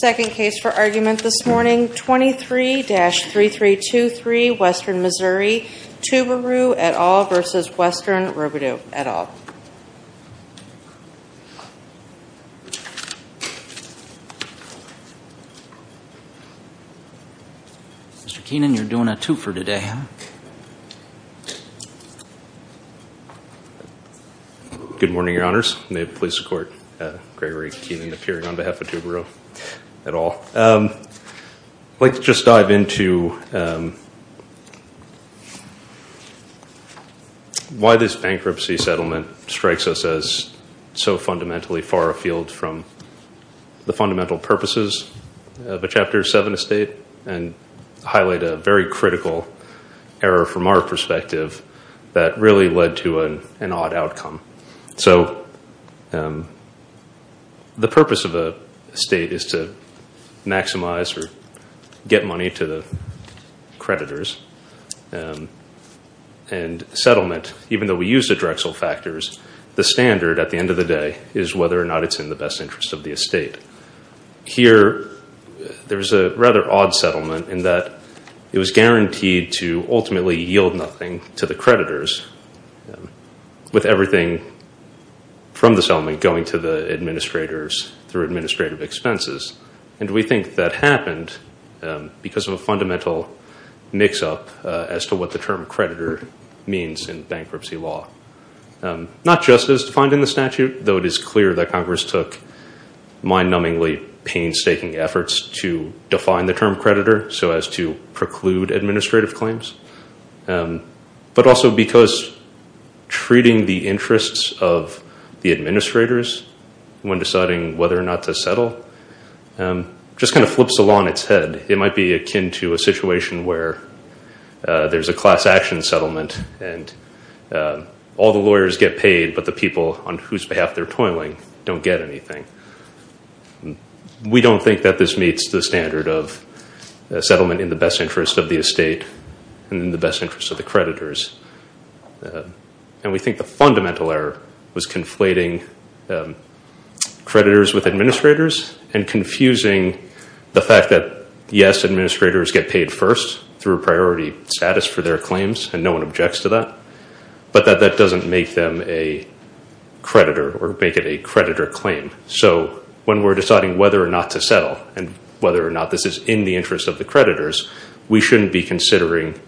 Second case for argument this morning, 23-3323, Western Missouri, TuBaRoo, et al. v. Western Robidoux, et al. Mr. Keenan, you're doing a two for today, huh? Good morning, Your Honors. May it please the Court, Gregory Keenan, appearing on behalf of TuBaRoo, et al. I'd like to just dive into why this bankruptcy settlement strikes us as so fundamentally far afield from the fundamental purposes of a Chapter 7 estate and highlight a very critical error from our perspective that really led to an odd outcome. So the purpose of an estate is to maximize or get money to the creditors, and settlement, even though we use the Drexel factors, the standard at the end of the day is whether or not it's in the best interest of the estate. Here, there's a rather odd settlement in that it was guaranteed to ultimately yield nothing to the creditors, with everything from the settlement going to the administrators through administrative expenses. And we think that happened because of a fundamental mix-up as to what the term creditor means in bankruptcy law. Not just as defined in the statute, though it is clear that Congress took mind-numbingly painstaking efforts to define the term creditor so as to preclude administrative claims, but also because treating the interests of the administrators when deciding whether or not to settle just kind of flips the law on its head. It might be akin to a situation where there's a class action settlement and all the lawyers get paid, but the people on whose behalf they're toiling don't get anything. We don't think that this meets the standard of settlement in the best interest of the estate and in the best interest of the creditors. And we think the fundamental error was conflating creditors with administrators and confusing the fact that, yes, administrators get paid first through priority status for their claims, and no one objects to that, but that that doesn't make them a creditor or make it a creditor claim. So when we're deciding whether or not to settle and whether or not this is in the interest of the creditors, we shouldn't be considering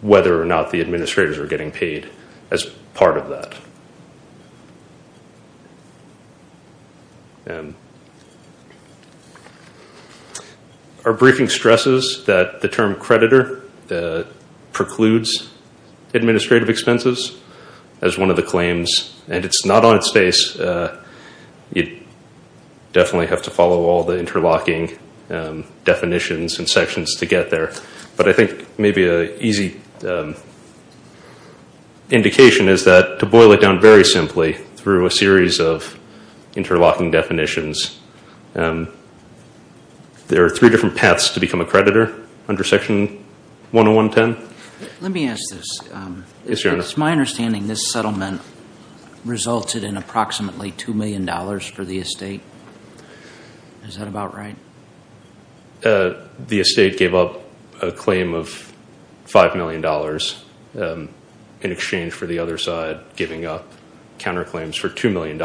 whether or not the administrators are getting paid as part of that. Our briefing stresses that the term creditor precludes administrative expenses as one of the claims, and it's not on its face. You definitely have to follow all the interlocking definitions and sections to get there. But I think maybe an easy indication is that to boil it down very simply through a series of interlocking definitions, there are three different paths to become a creditor under Section 10110. Let me ask this. It's my understanding this settlement resulted in approximately $2 million for the estate. Is that about right? The estate gave up a claim of $5 million in exchange for the other side giving up counterclaims for $2 million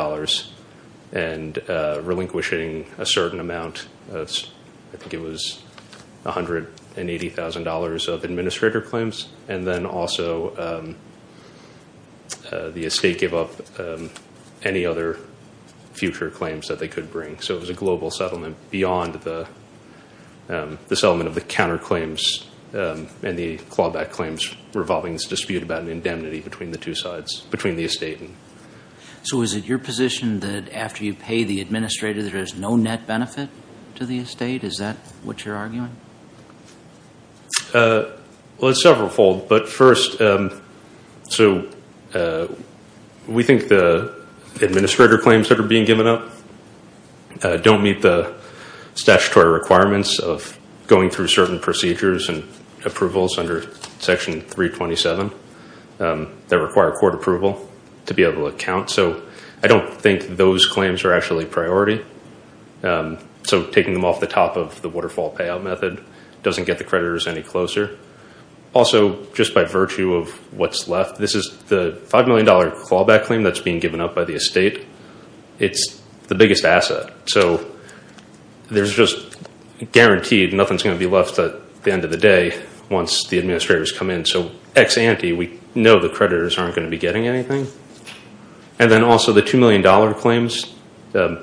and relinquishing a certain amount, I think it was $180,000 of administrator claims, and then also the estate gave up any other future claims that they could bring. So it was a global settlement beyond the settlement of the counterclaims and the clawback claims revolving this dispute about an indemnity between the two sides, between the estate. So is it your position that after you pay the administrator, there is no net benefit to the estate? Is that what you're arguing? Well, it's several-fold. But first, so we think the administrator claims that are being given up don't meet the statutory requirements of going through certain procedures and approvals under Section 327 that require court approval to be able to count. So I don't think those claims are actually a priority. So taking them off the top of the waterfall payout method doesn't get the creditors any closer. Also, just by virtue of what's left, this is the $5 million clawback claim that's being given up by the estate. It's the biggest asset. So there's just guaranteed nothing's going to be left at the end of the day once the administrators come in. So ex ante, we know the creditors aren't going to be getting anything. And then also the $2 million claims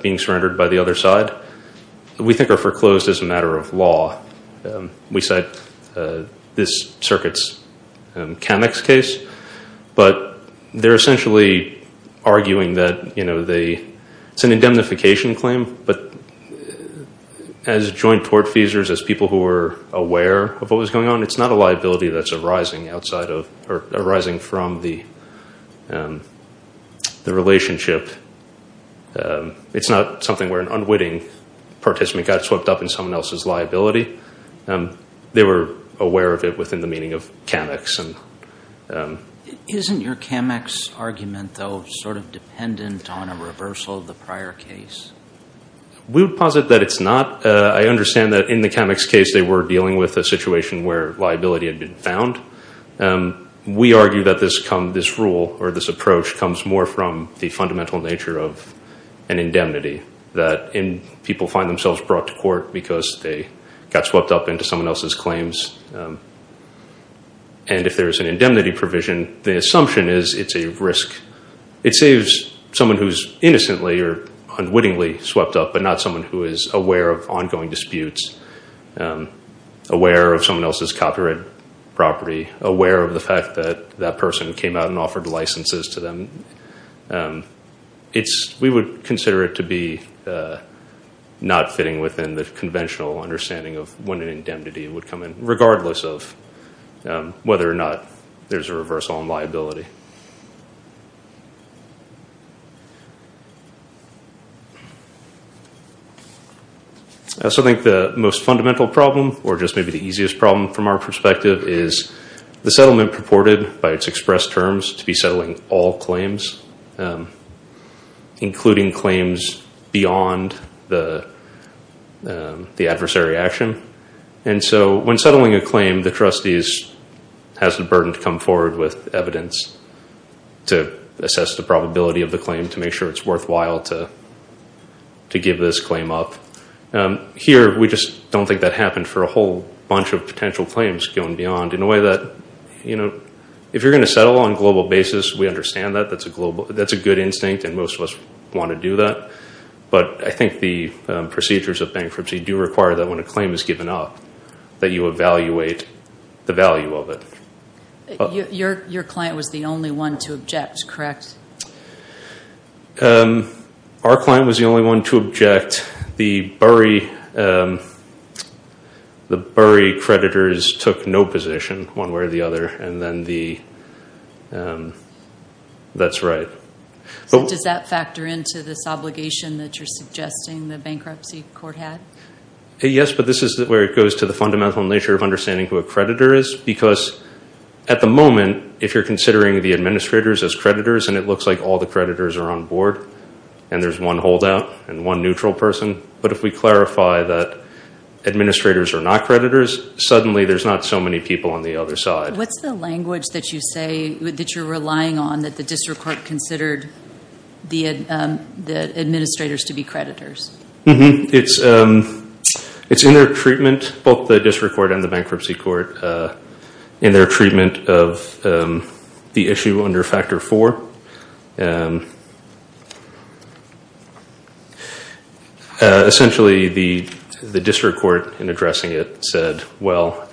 being surrendered by the other side we think are foreclosed as a matter of law. We cite this circuit's Camex case. But they're essentially arguing that it's an indemnification claim. But as joint tortfeasors, as people who are aware of what was going on, it's not a liability that's arising from the relationship. It's not something where an unwitting participant got swept up in someone else's liability. They were aware of it within the meaning of Camex. Isn't your Camex argument, though, sort of dependent on a reversal of the prior case? We would posit that it's not. I understand that in the Camex case they were dealing with a situation where liability had been found. We argue that this rule or this approach comes more from the fundamental nature of an indemnity, that people find themselves brought to court because they got swept up into someone else's claims. And if there's an indemnity provision, the assumption is it's a risk. It saves someone who's innocently or unwittingly swept up, but not someone who is aware of ongoing disputes, aware of someone else's copyright property, aware of the fact that that person came out and offered licenses to them. We would consider it to be not fitting within the conventional understanding of when an indemnity would come in, regardless of whether or not there's a reversal in liability. I also think the most fundamental problem, or just maybe the easiest problem from our perspective, is the settlement purported by its expressed terms to be settling all claims, including claims beyond the adversary action. And so when settling a claim, the trustees has the burden to come forward with evidence to assess the probability of the claim, to make sure it's worthwhile to give this claim up. Here, we just don't think that happened for a whole bunch of potential claims going beyond, in a way that if you're going to settle on a global basis, we understand that. That's a good instinct, and most of us want to do that. But I think the procedures of bankruptcy do require that when a claim is given up, that you evaluate the value of it. Your client was the only one to object, correct? Our client was the only one to object. The Burry creditors took no position, one way or the other, and then that's right. Does that factor into this obligation that you're suggesting the bankruptcy court had? Yes, but this is where it goes to the fundamental nature of understanding who a creditor is, because at the moment, if you're considering the administrators as creditors, and it looks like all the creditors are on board, and there's one holdout and one neutral person, but if we clarify that administrators are not creditors, suddenly there's not so many people on the other side. What's the language that you say that you're relying on that the district court considered the administrators to be creditors? It's in their treatment, both the district court and the bankruptcy court, in their treatment of the issue under Factor 4. Essentially, the district court, in addressing it, said, well,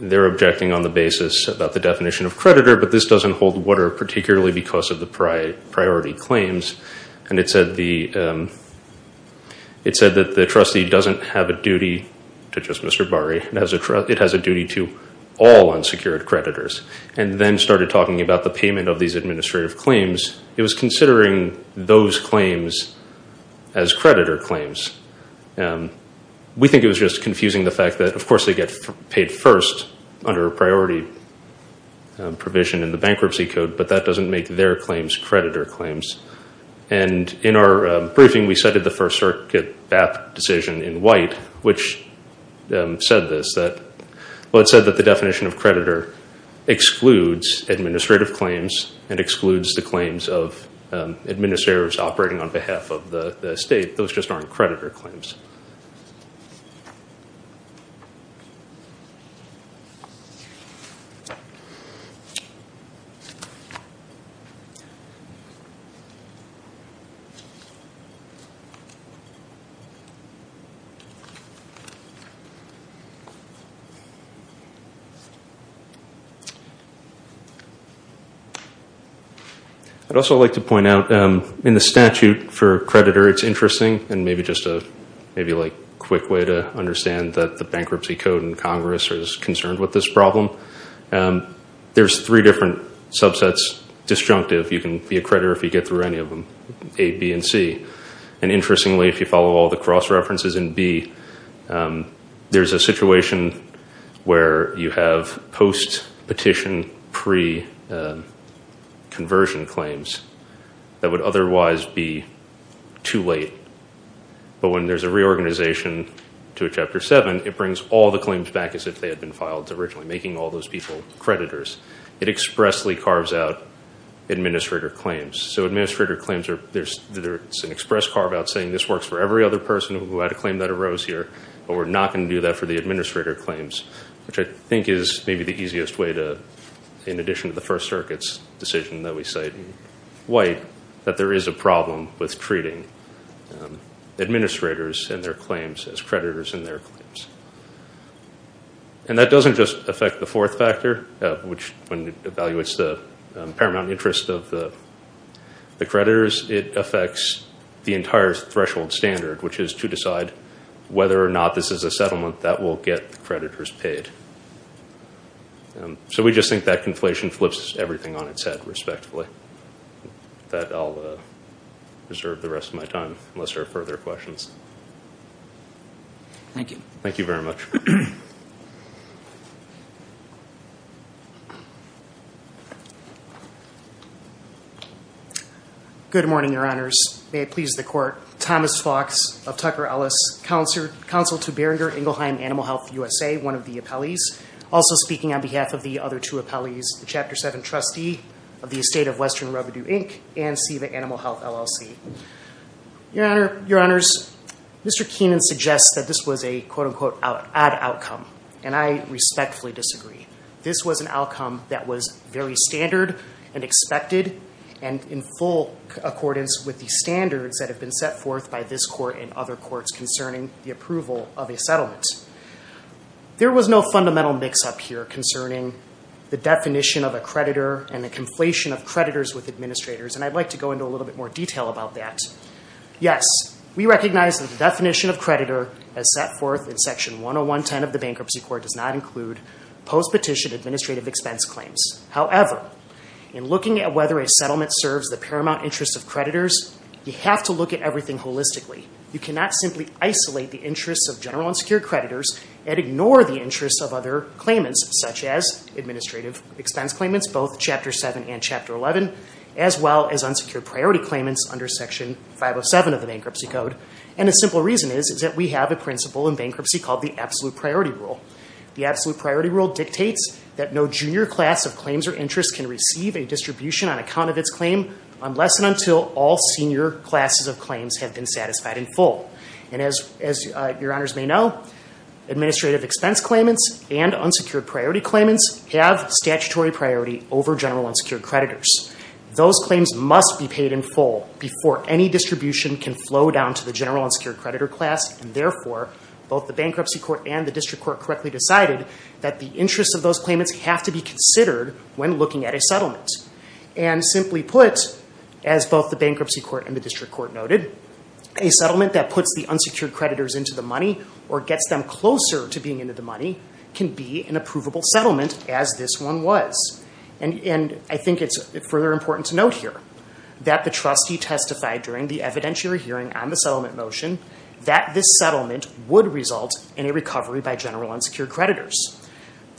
they're objecting on the basis about the definition of creditor, but this doesn't hold water, particularly because of the priority claims. It said that the trustee doesn't have a duty to just Mr. Burry, it has a duty to all unsecured creditors, and then started talking about the payment of these administrative claims. It was considering those claims as creditor claims. We think it was just confusing the fact that, of course, they get paid first under a priority provision in the bankruptcy code, but that doesn't make their claims creditor claims. In our briefing, we cited the First Circuit decision in White, which said this. It said that the definition of creditor excludes administrative claims and excludes the claims of administrators operating on behalf of the state. Those just aren't creditor claims. I'd also like to point out, in the statute for creditor, it's interesting, and maybe just a quick way to understand that the bankruptcy code in Congress is concerned with this problem. There's three different subsets. Disjunctive, you can be a creditor if you get through any of them, A, B, and C. Interestingly, if you follow all the cross-references in B, there's a situation where you have post-petition, pre-conversion claims that would otherwise be too late. But when there's a reorganization to a Chapter 7, it brings all the claims back as if they had been filed originally, making all those people creditors. It expressly carves out administrative claims. There's an express carve-out saying this works for every other person who had a claim that arose here, but we're not going to do that for the administrator claims, which I think is maybe the easiest way to, in addition to the First Circuit's decision that we cite in White, that there is a problem with treating administrators and their claims as creditors in their claims. And that doesn't just affect the fourth factor, which when it evaluates the paramount interest of the creditors, it affects the entire threshold standard, which is to decide whether or not this is a settlement that will get creditors paid. So we just think that conflation flips everything on its head, respectively. That I'll reserve the rest of my time, unless there are further questions. Thank you. Thank you very much. Good morning, Your Honors. May it please the Court, Thomas Fox of Tucker-Ellis, Counsel to Beringer-Ingelheim Animal Health USA, one of the appellees, also speaking on behalf of the other two appellees, the Chapter 7 trustee of the Estate of Western Revenue, Inc., and SEVA Animal Health, LLC. Your Honors, Mr. Keenan suggests that this was a quote-unquote odd outcome, and I respectfully disagree. This was an outcome that was very standard and expected and in full accordance with the standards that have been set forth by this Court and other courts concerning the approval of a settlement. There was no fundamental mix-up here concerning the definition of a creditor and the conflation of creditors with administrators, and I'd like to go into a little bit more detail about that. Yes, we recognize that the definition of creditor as set forth in Section 10110 of the Bankruptcy Court does not include post-petition administrative expense claims. However, in looking at whether a settlement serves the paramount interests of creditors, you have to look at everything holistically. You cannot simply isolate the interests of general and secure creditors and ignore the interests of other claimants, such as administrative expense claimants, both Chapter 7 and Chapter 11, as well as unsecured priority claimants under Section 507 of the Bankruptcy Code. And the simple reason is that we have a principle in bankruptcy called the Absolute Priority Rule. The Absolute Priority Rule dictates that no junior class of claims or interests can receive a distribution on account of its claim unless and until all senior classes of claims have been satisfied in full. And as your Honors may know, administrative expense claimants and unsecured priority claimants have statutory priority over general unsecured creditors. Those claims must be paid in full before any distribution can flow down to the general unsecured creditor class. And therefore, both the Bankruptcy Court and the District Court correctly decided that the interests of those claimants have to be considered when looking at a settlement. And simply put, as both the Bankruptcy Court and the District Court noted, a settlement that puts the unsecured creditors into the money or gets them closer to being into the money can be an approvable settlement as this one was. And I think it's further important to note here that the trustee testified during the evidentiary hearing on the settlement motion that this settlement would result in a recovery by general unsecured creditors.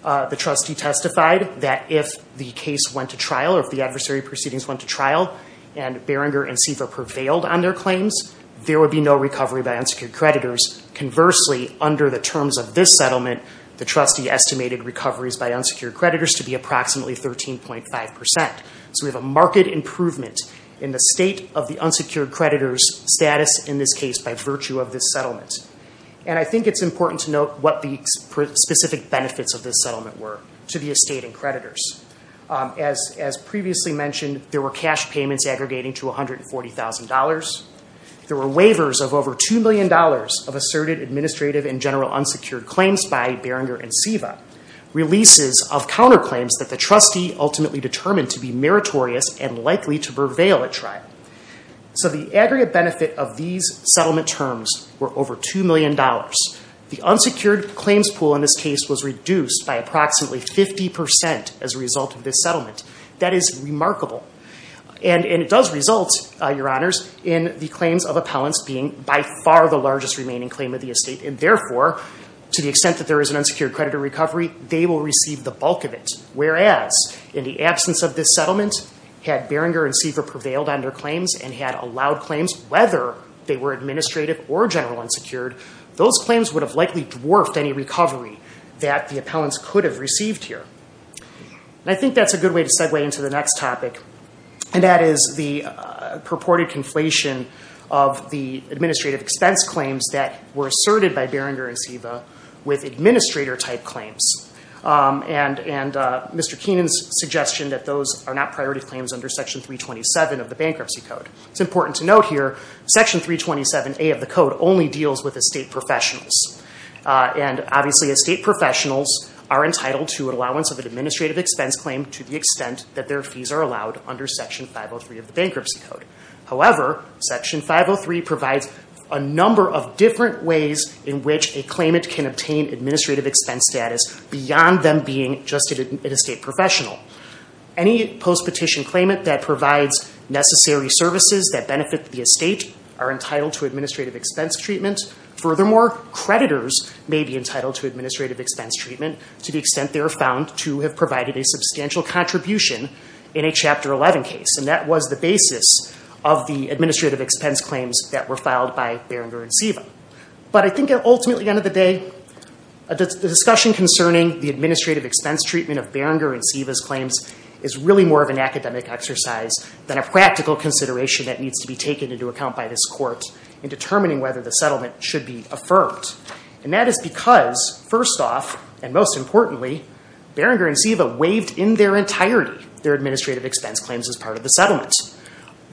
The trustee testified that if the case went to trial or if the adversary proceedings went to trial and Barringer and Seva prevailed on their claims, there would be no recovery by unsecured creditors. Conversely, under the terms of this settlement, the trustee estimated recoveries by unsecured creditors to be approximately 13.5%. So we have a marked improvement in the state of the unsecured creditors' status in this case by virtue of this settlement. And I think it's important to note what the specific benefits of this settlement were to the estate and creditors. As previously mentioned, there were cash payments aggregating to $140,000. There were waivers of over $2 million of asserted administrative and general unsecured claims by Barringer and Seva, releases of counterclaims that the trustee ultimately determined to be meritorious and likely to prevail at trial. So the aggregate benefit of these settlement terms were over $2 million. The unsecured claims pool in this case was reduced by approximately 50% as a result of this settlement. That is remarkable. And it does result, Your Honors, in the claims of appellants being by far the largest remaining claim of the estate. And therefore, to the extent that there is an unsecured creditor recovery, they will receive the bulk of it. Whereas, in the absence of this settlement, had Barringer and Seva prevailed on their claims and had allowed claims, whether they were administrative or general unsecured, those claims would have likely dwarfed any recovery that the appellants could have received here. And I think that's a good way to segue into the next topic, and that is the purported conflation of the administrative expense claims that were asserted by Barringer and Seva with administrator-type claims. And Mr. Keenan's suggestion that those are not priority claims under Section 327 of the Bankruptcy Code. It's important to note here, Section 327A of the Code only deals with estate professionals. And obviously, estate professionals are entitled to an allowance of an administrative expense claim to the extent that their fees are allowed under Section 503 of the Bankruptcy Code. However, Section 503 provides a number of different ways in which a claimant can obtain administrative expense status beyond them being just an estate professional. Any post-petition claimant that provides necessary services that benefit the estate are entitled to administrative expense treatment. Furthermore, creditors may be entitled to administrative expense treatment to the extent they are found to have provided a substantial contribution in a Chapter 11 case. And that was the basis of the administrative expense claims that were filed by Barringer and Seva. But I think ultimately, at the end of the day, the discussion concerning the administrative expense treatment of Barringer and Seva's claims is really more of an academic exercise than a practical consideration that needs to be taken into account by this Court in determining whether the settlement should be affirmed. And that is because, first off, and most importantly, Barringer and Seva waived in their entirety their administrative expense claims as part of the settlement.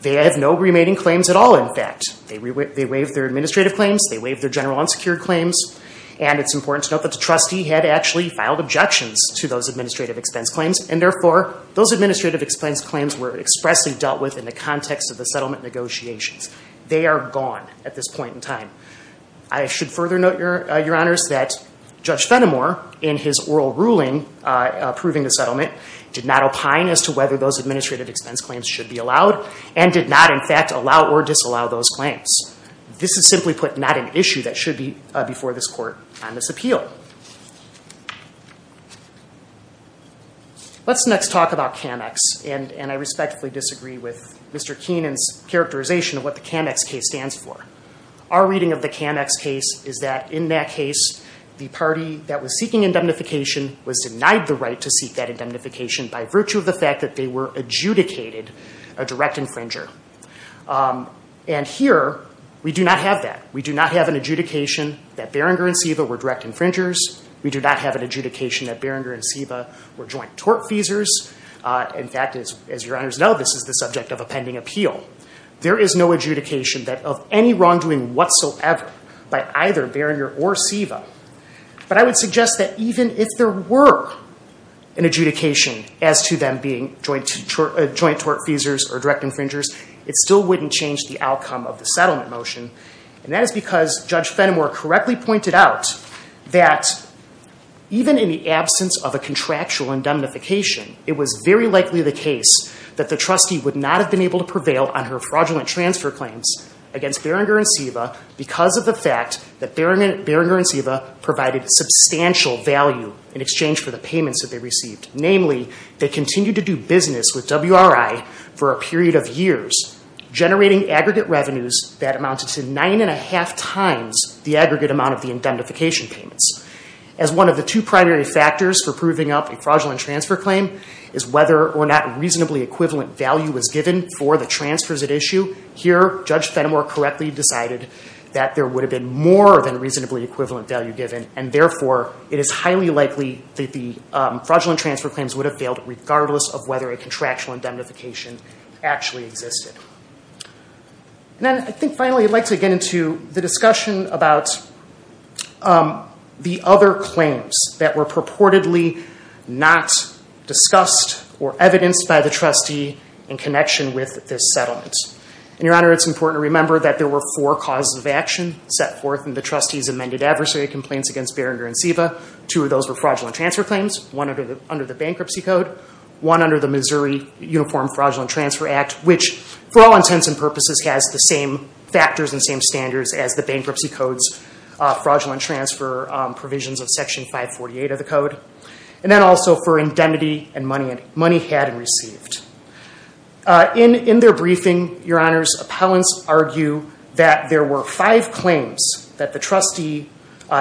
They have no remaining claims at all, in fact. They waived their administrative claims, they waived their general unsecured claims, and it's important to note that the trustee had actually filed objections to those administrative expense claims, and therefore, those administrative expense claims were expressly dealt with in the context of the settlement negotiations. They are gone at this point in time. I should further note, Your Honors, that Judge Fenimore, in his oral ruling approving the settlement, did not opine as to whether those administrative expense claims should be allowed, and did not, in fact, allow or disallow those claims. This is simply put, not an issue that should be before this Court on this appeal. Let's next talk about CAMEX, and I respectfully disagree with Mr. Keenan's characterization of what the CAMEX case stands for. Our reading of the CAMEX case is that, in that case, the party that was seeking indemnification was denied the right to seek that indemnification by virtue of the fact that they were adjudicated a direct infringer. And here, we do not have that. We do not have an adjudication that Barringer and Seva were direct infringers. We do not have an adjudication that Barringer and Seva were joint tortfeasors. In fact, as Your Honors know, this is the subject of a pending appeal. There is no adjudication of any wrongdoing whatsoever by either Barringer or Seva. But I would suggest that even if there were an adjudication as to them being joint tortfeasors or direct infringers, it still wouldn't change the outcome of the settlement motion. And that is because Judge Fenimore correctly pointed out that even in the absence of a contractual indemnification, it was very likely the case that the trustee would not have been able to prevail on her fraudulent transfer claims against Barringer and Seva because of the fact that Barringer and Seva provided substantial value in exchange for the payments that they received. Namely, they continued to do business with WRI for a period of years, generating aggregate revenues that amounted to nine and a half times the aggregate amount of the indemnification payments. As one of the two primary factors for proving up a fraudulent transfer claim is whether or not reasonably equivalent value was given for the transfers at issue. Here, Judge Fenimore correctly decided that there would have been more than reasonably equivalent value given. And therefore, it is highly likely that the fraudulent transfer claims would have failed, regardless of whether a contractual indemnification actually existed. And then I think finally I'd like to get into the discussion about the other claims that were purportedly not discussed or evidenced by the trustee in connection with this settlement. And, Your Honor, it's important to remember that there were four causes of action set forth in the trustee's amended adversary complaints against Barringer and Seva. Two of those were fraudulent transfer claims. One under the bankruptcy code. One under the Missouri Uniform Fraudulent Transfer Act, which for all intents and purposes has the same factors and same standards as the bankruptcy code's fraudulent transfer provisions of Section 548 of the code. And then also for indemnity and money had and received. In their briefing, Your Honors, appellants argue that there were five claims that the trustee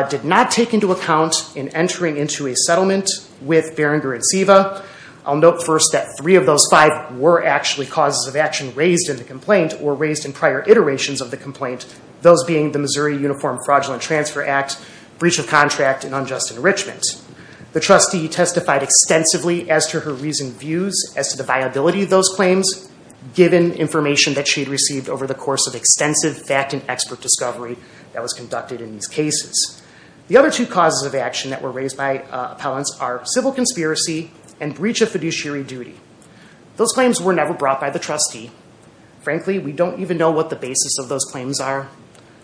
did not take into account in entering into a settlement with Barringer and Seva. I'll note first that three of those five were actually causes of action raised in the complaint or raised in prior iterations of the complaint, those being the Missouri Uniform Fraudulent Transfer Act, breach of contract, and unjust enrichment. The trustee testified extensively as to her reasoned views as to the viability of those claims, given information that she had received over the course of extensive fact and expert discovery that was conducted in these cases. The other two causes of action that were raised by appellants are civil conspiracy and breach of fiduciary duty. Those claims were never brought by the trustee. Frankly, we don't even know what the basis of those claims are.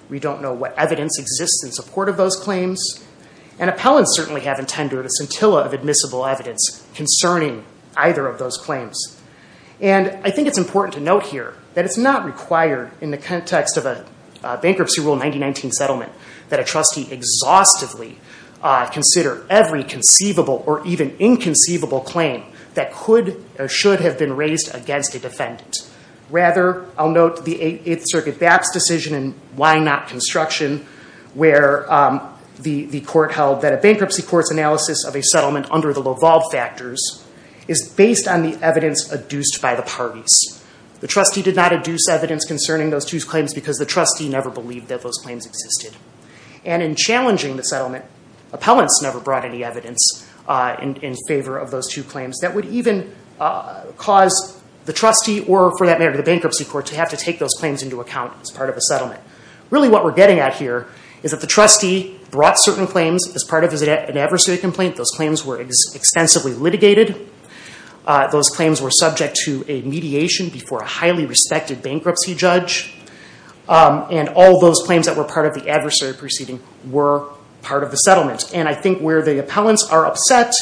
We don't know what evidence exists in support of those claims. And appellants certainly haven't tendered a scintilla of admissible evidence concerning either of those claims. And I think it's important to note here that it's not required in the context of a bankruptcy rule 1919 settlement that a trustee exhaustively consider every conceivable or even inconceivable claim that could or should have been raised against a defendant. Rather, I'll note the Eighth Circuit BAPS decision in Why Not Construction where the court held that a bankruptcy court's analysis of a settlement under the Laval Factors is based on the evidence adduced by the parties. The trustee did not adduce evidence concerning those two claims because the trustee never believed that those claims existed. And in challenging the settlement, appellants never brought any evidence in favor of those two claims. That would even cause the trustee or, for that matter, the bankruptcy court to have to take those claims into account as part of a settlement. Really what we're getting at here is that the trustee brought certain claims as part of an adversary complaint. Those claims were extensively litigated. Those claims were subject to a mediation before a highly respected bankruptcy judge. And all those claims that were part of the adversary proceeding were part of the settlement. And I think where the appellants are upset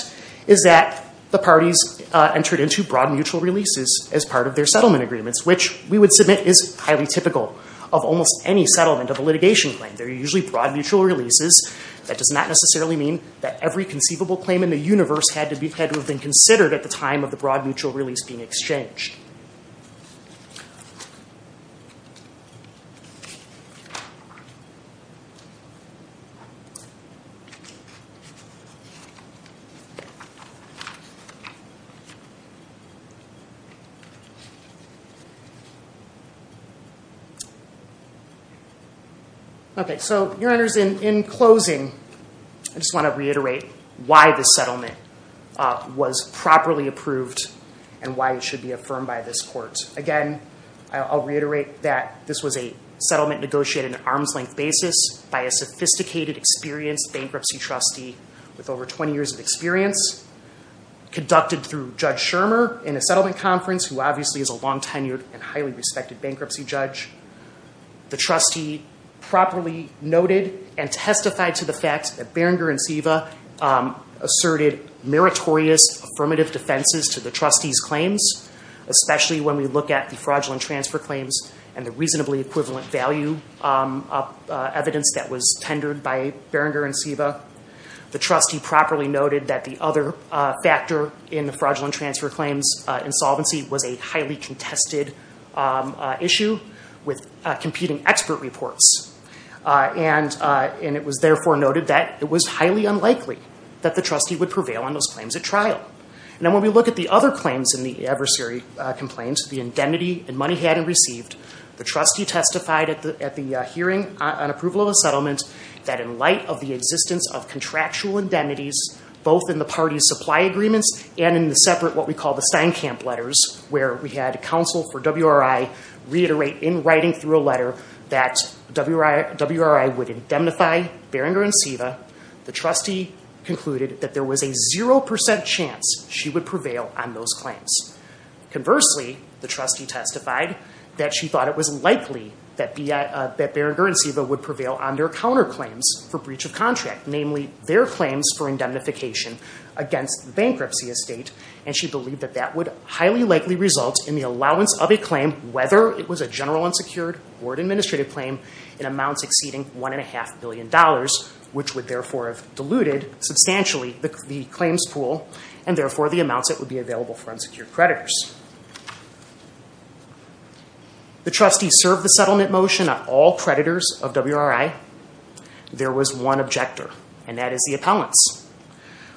is that the parties entered into broad mutual releases as part of their settlement agreements, which we would submit is highly typical of almost any settlement of a litigation claim. They're usually broad mutual releases. That does not necessarily mean that every conceivable claim in the universe had to have been considered at the time of the broad mutual release being exchanged. Okay, so, your honors, in closing, I just want to reiterate why this settlement was properly approved and why it should be affirmed by this court. Again, I'll reiterate that this was a settlement negotiated on an arm's length basis by a sophisticated, experienced bankruptcy trustee with over 20 years of experience. Conducted through Judge Schirmer in a settlement conference, who obviously is a long-tenured and highly respected bankruptcy judge. The trustee properly noted and testified to the fact that Berenguer and Siva asserted meritorious affirmative defenses to the trustee's claims, especially when we look at the fraudulent transfer claims and the reasonably equivalent value of evidence that was tendered by Berenguer and Siva. The trustee properly noted that the other factor in the fraudulent transfer claims insolvency was a highly contested issue with competing expert reports. And it was therefore noted that it was highly unlikely that the trustee would prevail on those claims at trial. Now, when we look at the other claims in the adversary complaints, the indemnity and money had and received, the trustee testified at the hearing on approval of the settlement that in light of the existence of contractual indemnities, both in the party's supply agreements and in the separate what we call the Steinkamp letters, where we had counsel for WRI reiterate in writing through a letter that WRI would indemnify Berenguer and Siva, the trustee concluded that there was a 0% chance she would prevail on those claims. Conversely, the trustee testified that she thought it was likely that Berenguer and Siva would prevail on their counterclaims for breach of contract, namely their claims for indemnification against the bankruptcy estate, and she believed that that would highly likely result in the allowance of a claim, whether it was a general unsecured or an administrative claim, in amounts exceeding $1.5 billion, which would therefore have diluted substantially the claims pool and therefore the amounts that would be available for unsecured creditors. The trustee served the settlement motion on all creditors of WRI. There was one objector, and that is the appellants.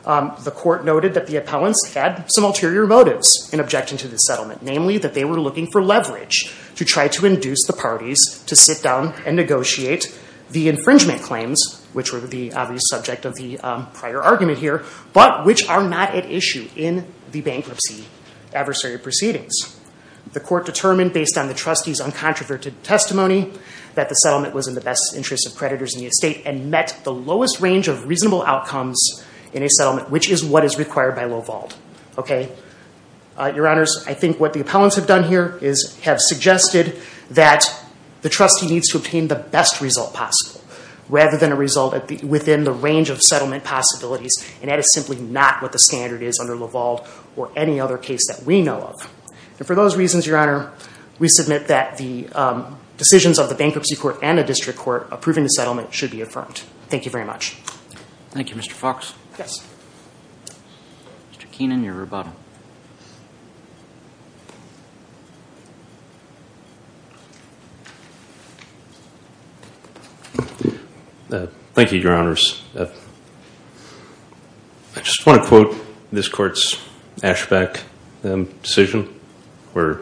The court noted that the appellants had some ulterior motives in objecting to the settlement, namely that they were looking for leverage to try to induce the parties to sit down and negotiate the infringement claims, which were the obvious subject of the prior argument here, but which are not at issue in the bankruptcy adversary proceedings. The court determined based on the trustee's uncontroverted testimony that the settlement was in the best interest of creditors in the estate and met the lowest range of reasonable outcomes in a settlement, which is what is required by Lavalde. Your Honors, I think what the appellants have done here is have suggested that the trustee needs to obtain the best result possible rather than a result within the range of settlement possibilities, and that is simply not what the standard is under Lavalde or any other case that we know of. And for those reasons, Your Honor, we submit that the decisions of the bankruptcy court and the district court approving the settlement should be affirmed. Thank you very much. Thank you, Mr. Fox. Yes. Mr. Keenan, your rebuttal. Thank you, Your Honors. I just want to quote this Court's ASHBAC decision, where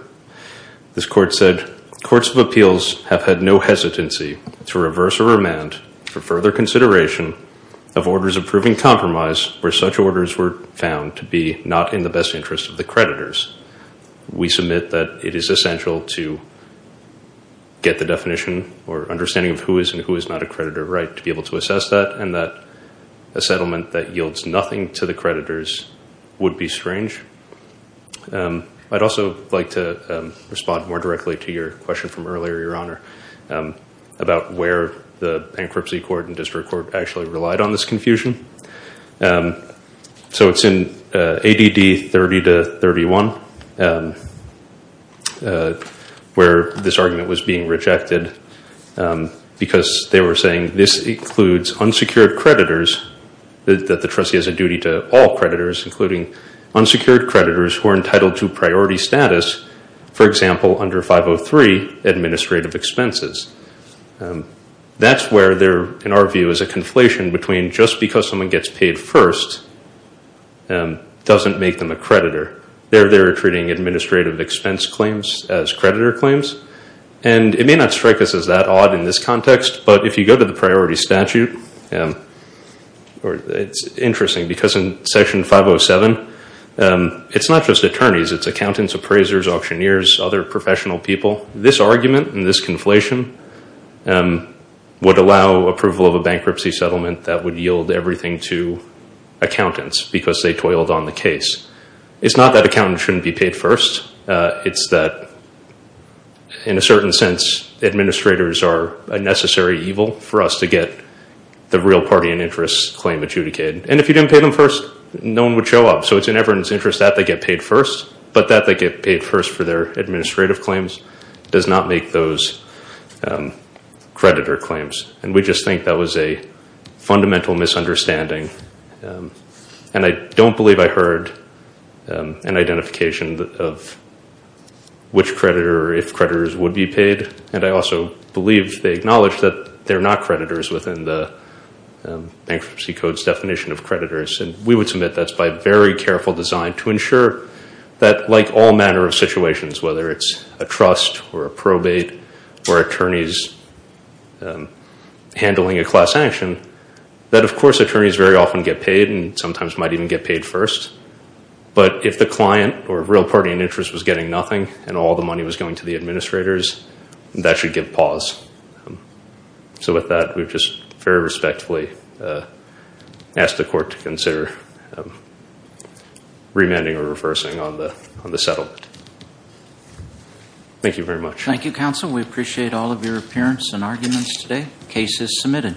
this Court said, Courts of Appeals have had no hesitancy to reverse or remand for further consideration of orders approving compromise where such orders were found to be not in the best interest of the creditors. We submit that it is essential to get the definition or understanding of who is and who is not a creditor right to be able to assess that and that a settlement that yields nothing to the creditors would be strange. I'd also like to respond more directly to your question from earlier, Your Honor, about where the bankruptcy court and district court actually relied on this confusion. So it's in ADD 30 to 31 where this argument was being rejected because they were saying this includes unsecured creditors, that the trustee has a duty to all creditors, including unsecured creditors who are entitled to priority status, for example, under 503, administrative expenses. That's where there, in our view, is a conflation between just because someone gets paid first doesn't make them a creditor. They're treating administrative expense claims as creditor claims, and it may not strike us as that odd in this context, but if you go to the priority statute, it's interesting because in Section 507, it's not just attorneys. It's accountants, appraisers, auctioneers, other professional people. This argument and this conflation would allow approval of a bankruptcy settlement that would yield everything to accountants because they toiled on the case. It's not that accountants shouldn't be paid first. It's that, in a certain sense, administrators are a necessary evil for us to get the real party in interest claim adjudicated. And if you didn't pay them first, no one would show up. So it's in everyone's interest that they get paid first, but that they get paid first for their administrative claims does not make those creditor claims, and we just think that was a fundamental misunderstanding. And I don't believe I heard an identification of which creditor or if creditors would be paid, and I also believe they acknowledge that they're not creditors within the Bankruptcy Code's definition of creditors, and we would submit that's by very careful design to ensure that, like all manner of situations, whether it's a trust or a probate or attorneys handling a class sanction, that, of course, attorneys very often get paid and sometimes might even get paid first. But if the client or real party in interest was getting nothing and all the money was going to the administrators, that should give pause. So with that, we've just very respectfully asked the court to consider remanding or reversing on the settlement. Thank you very much. Thank you, counsel. We appreciate all of your appearance and arguments today. Case is submitted.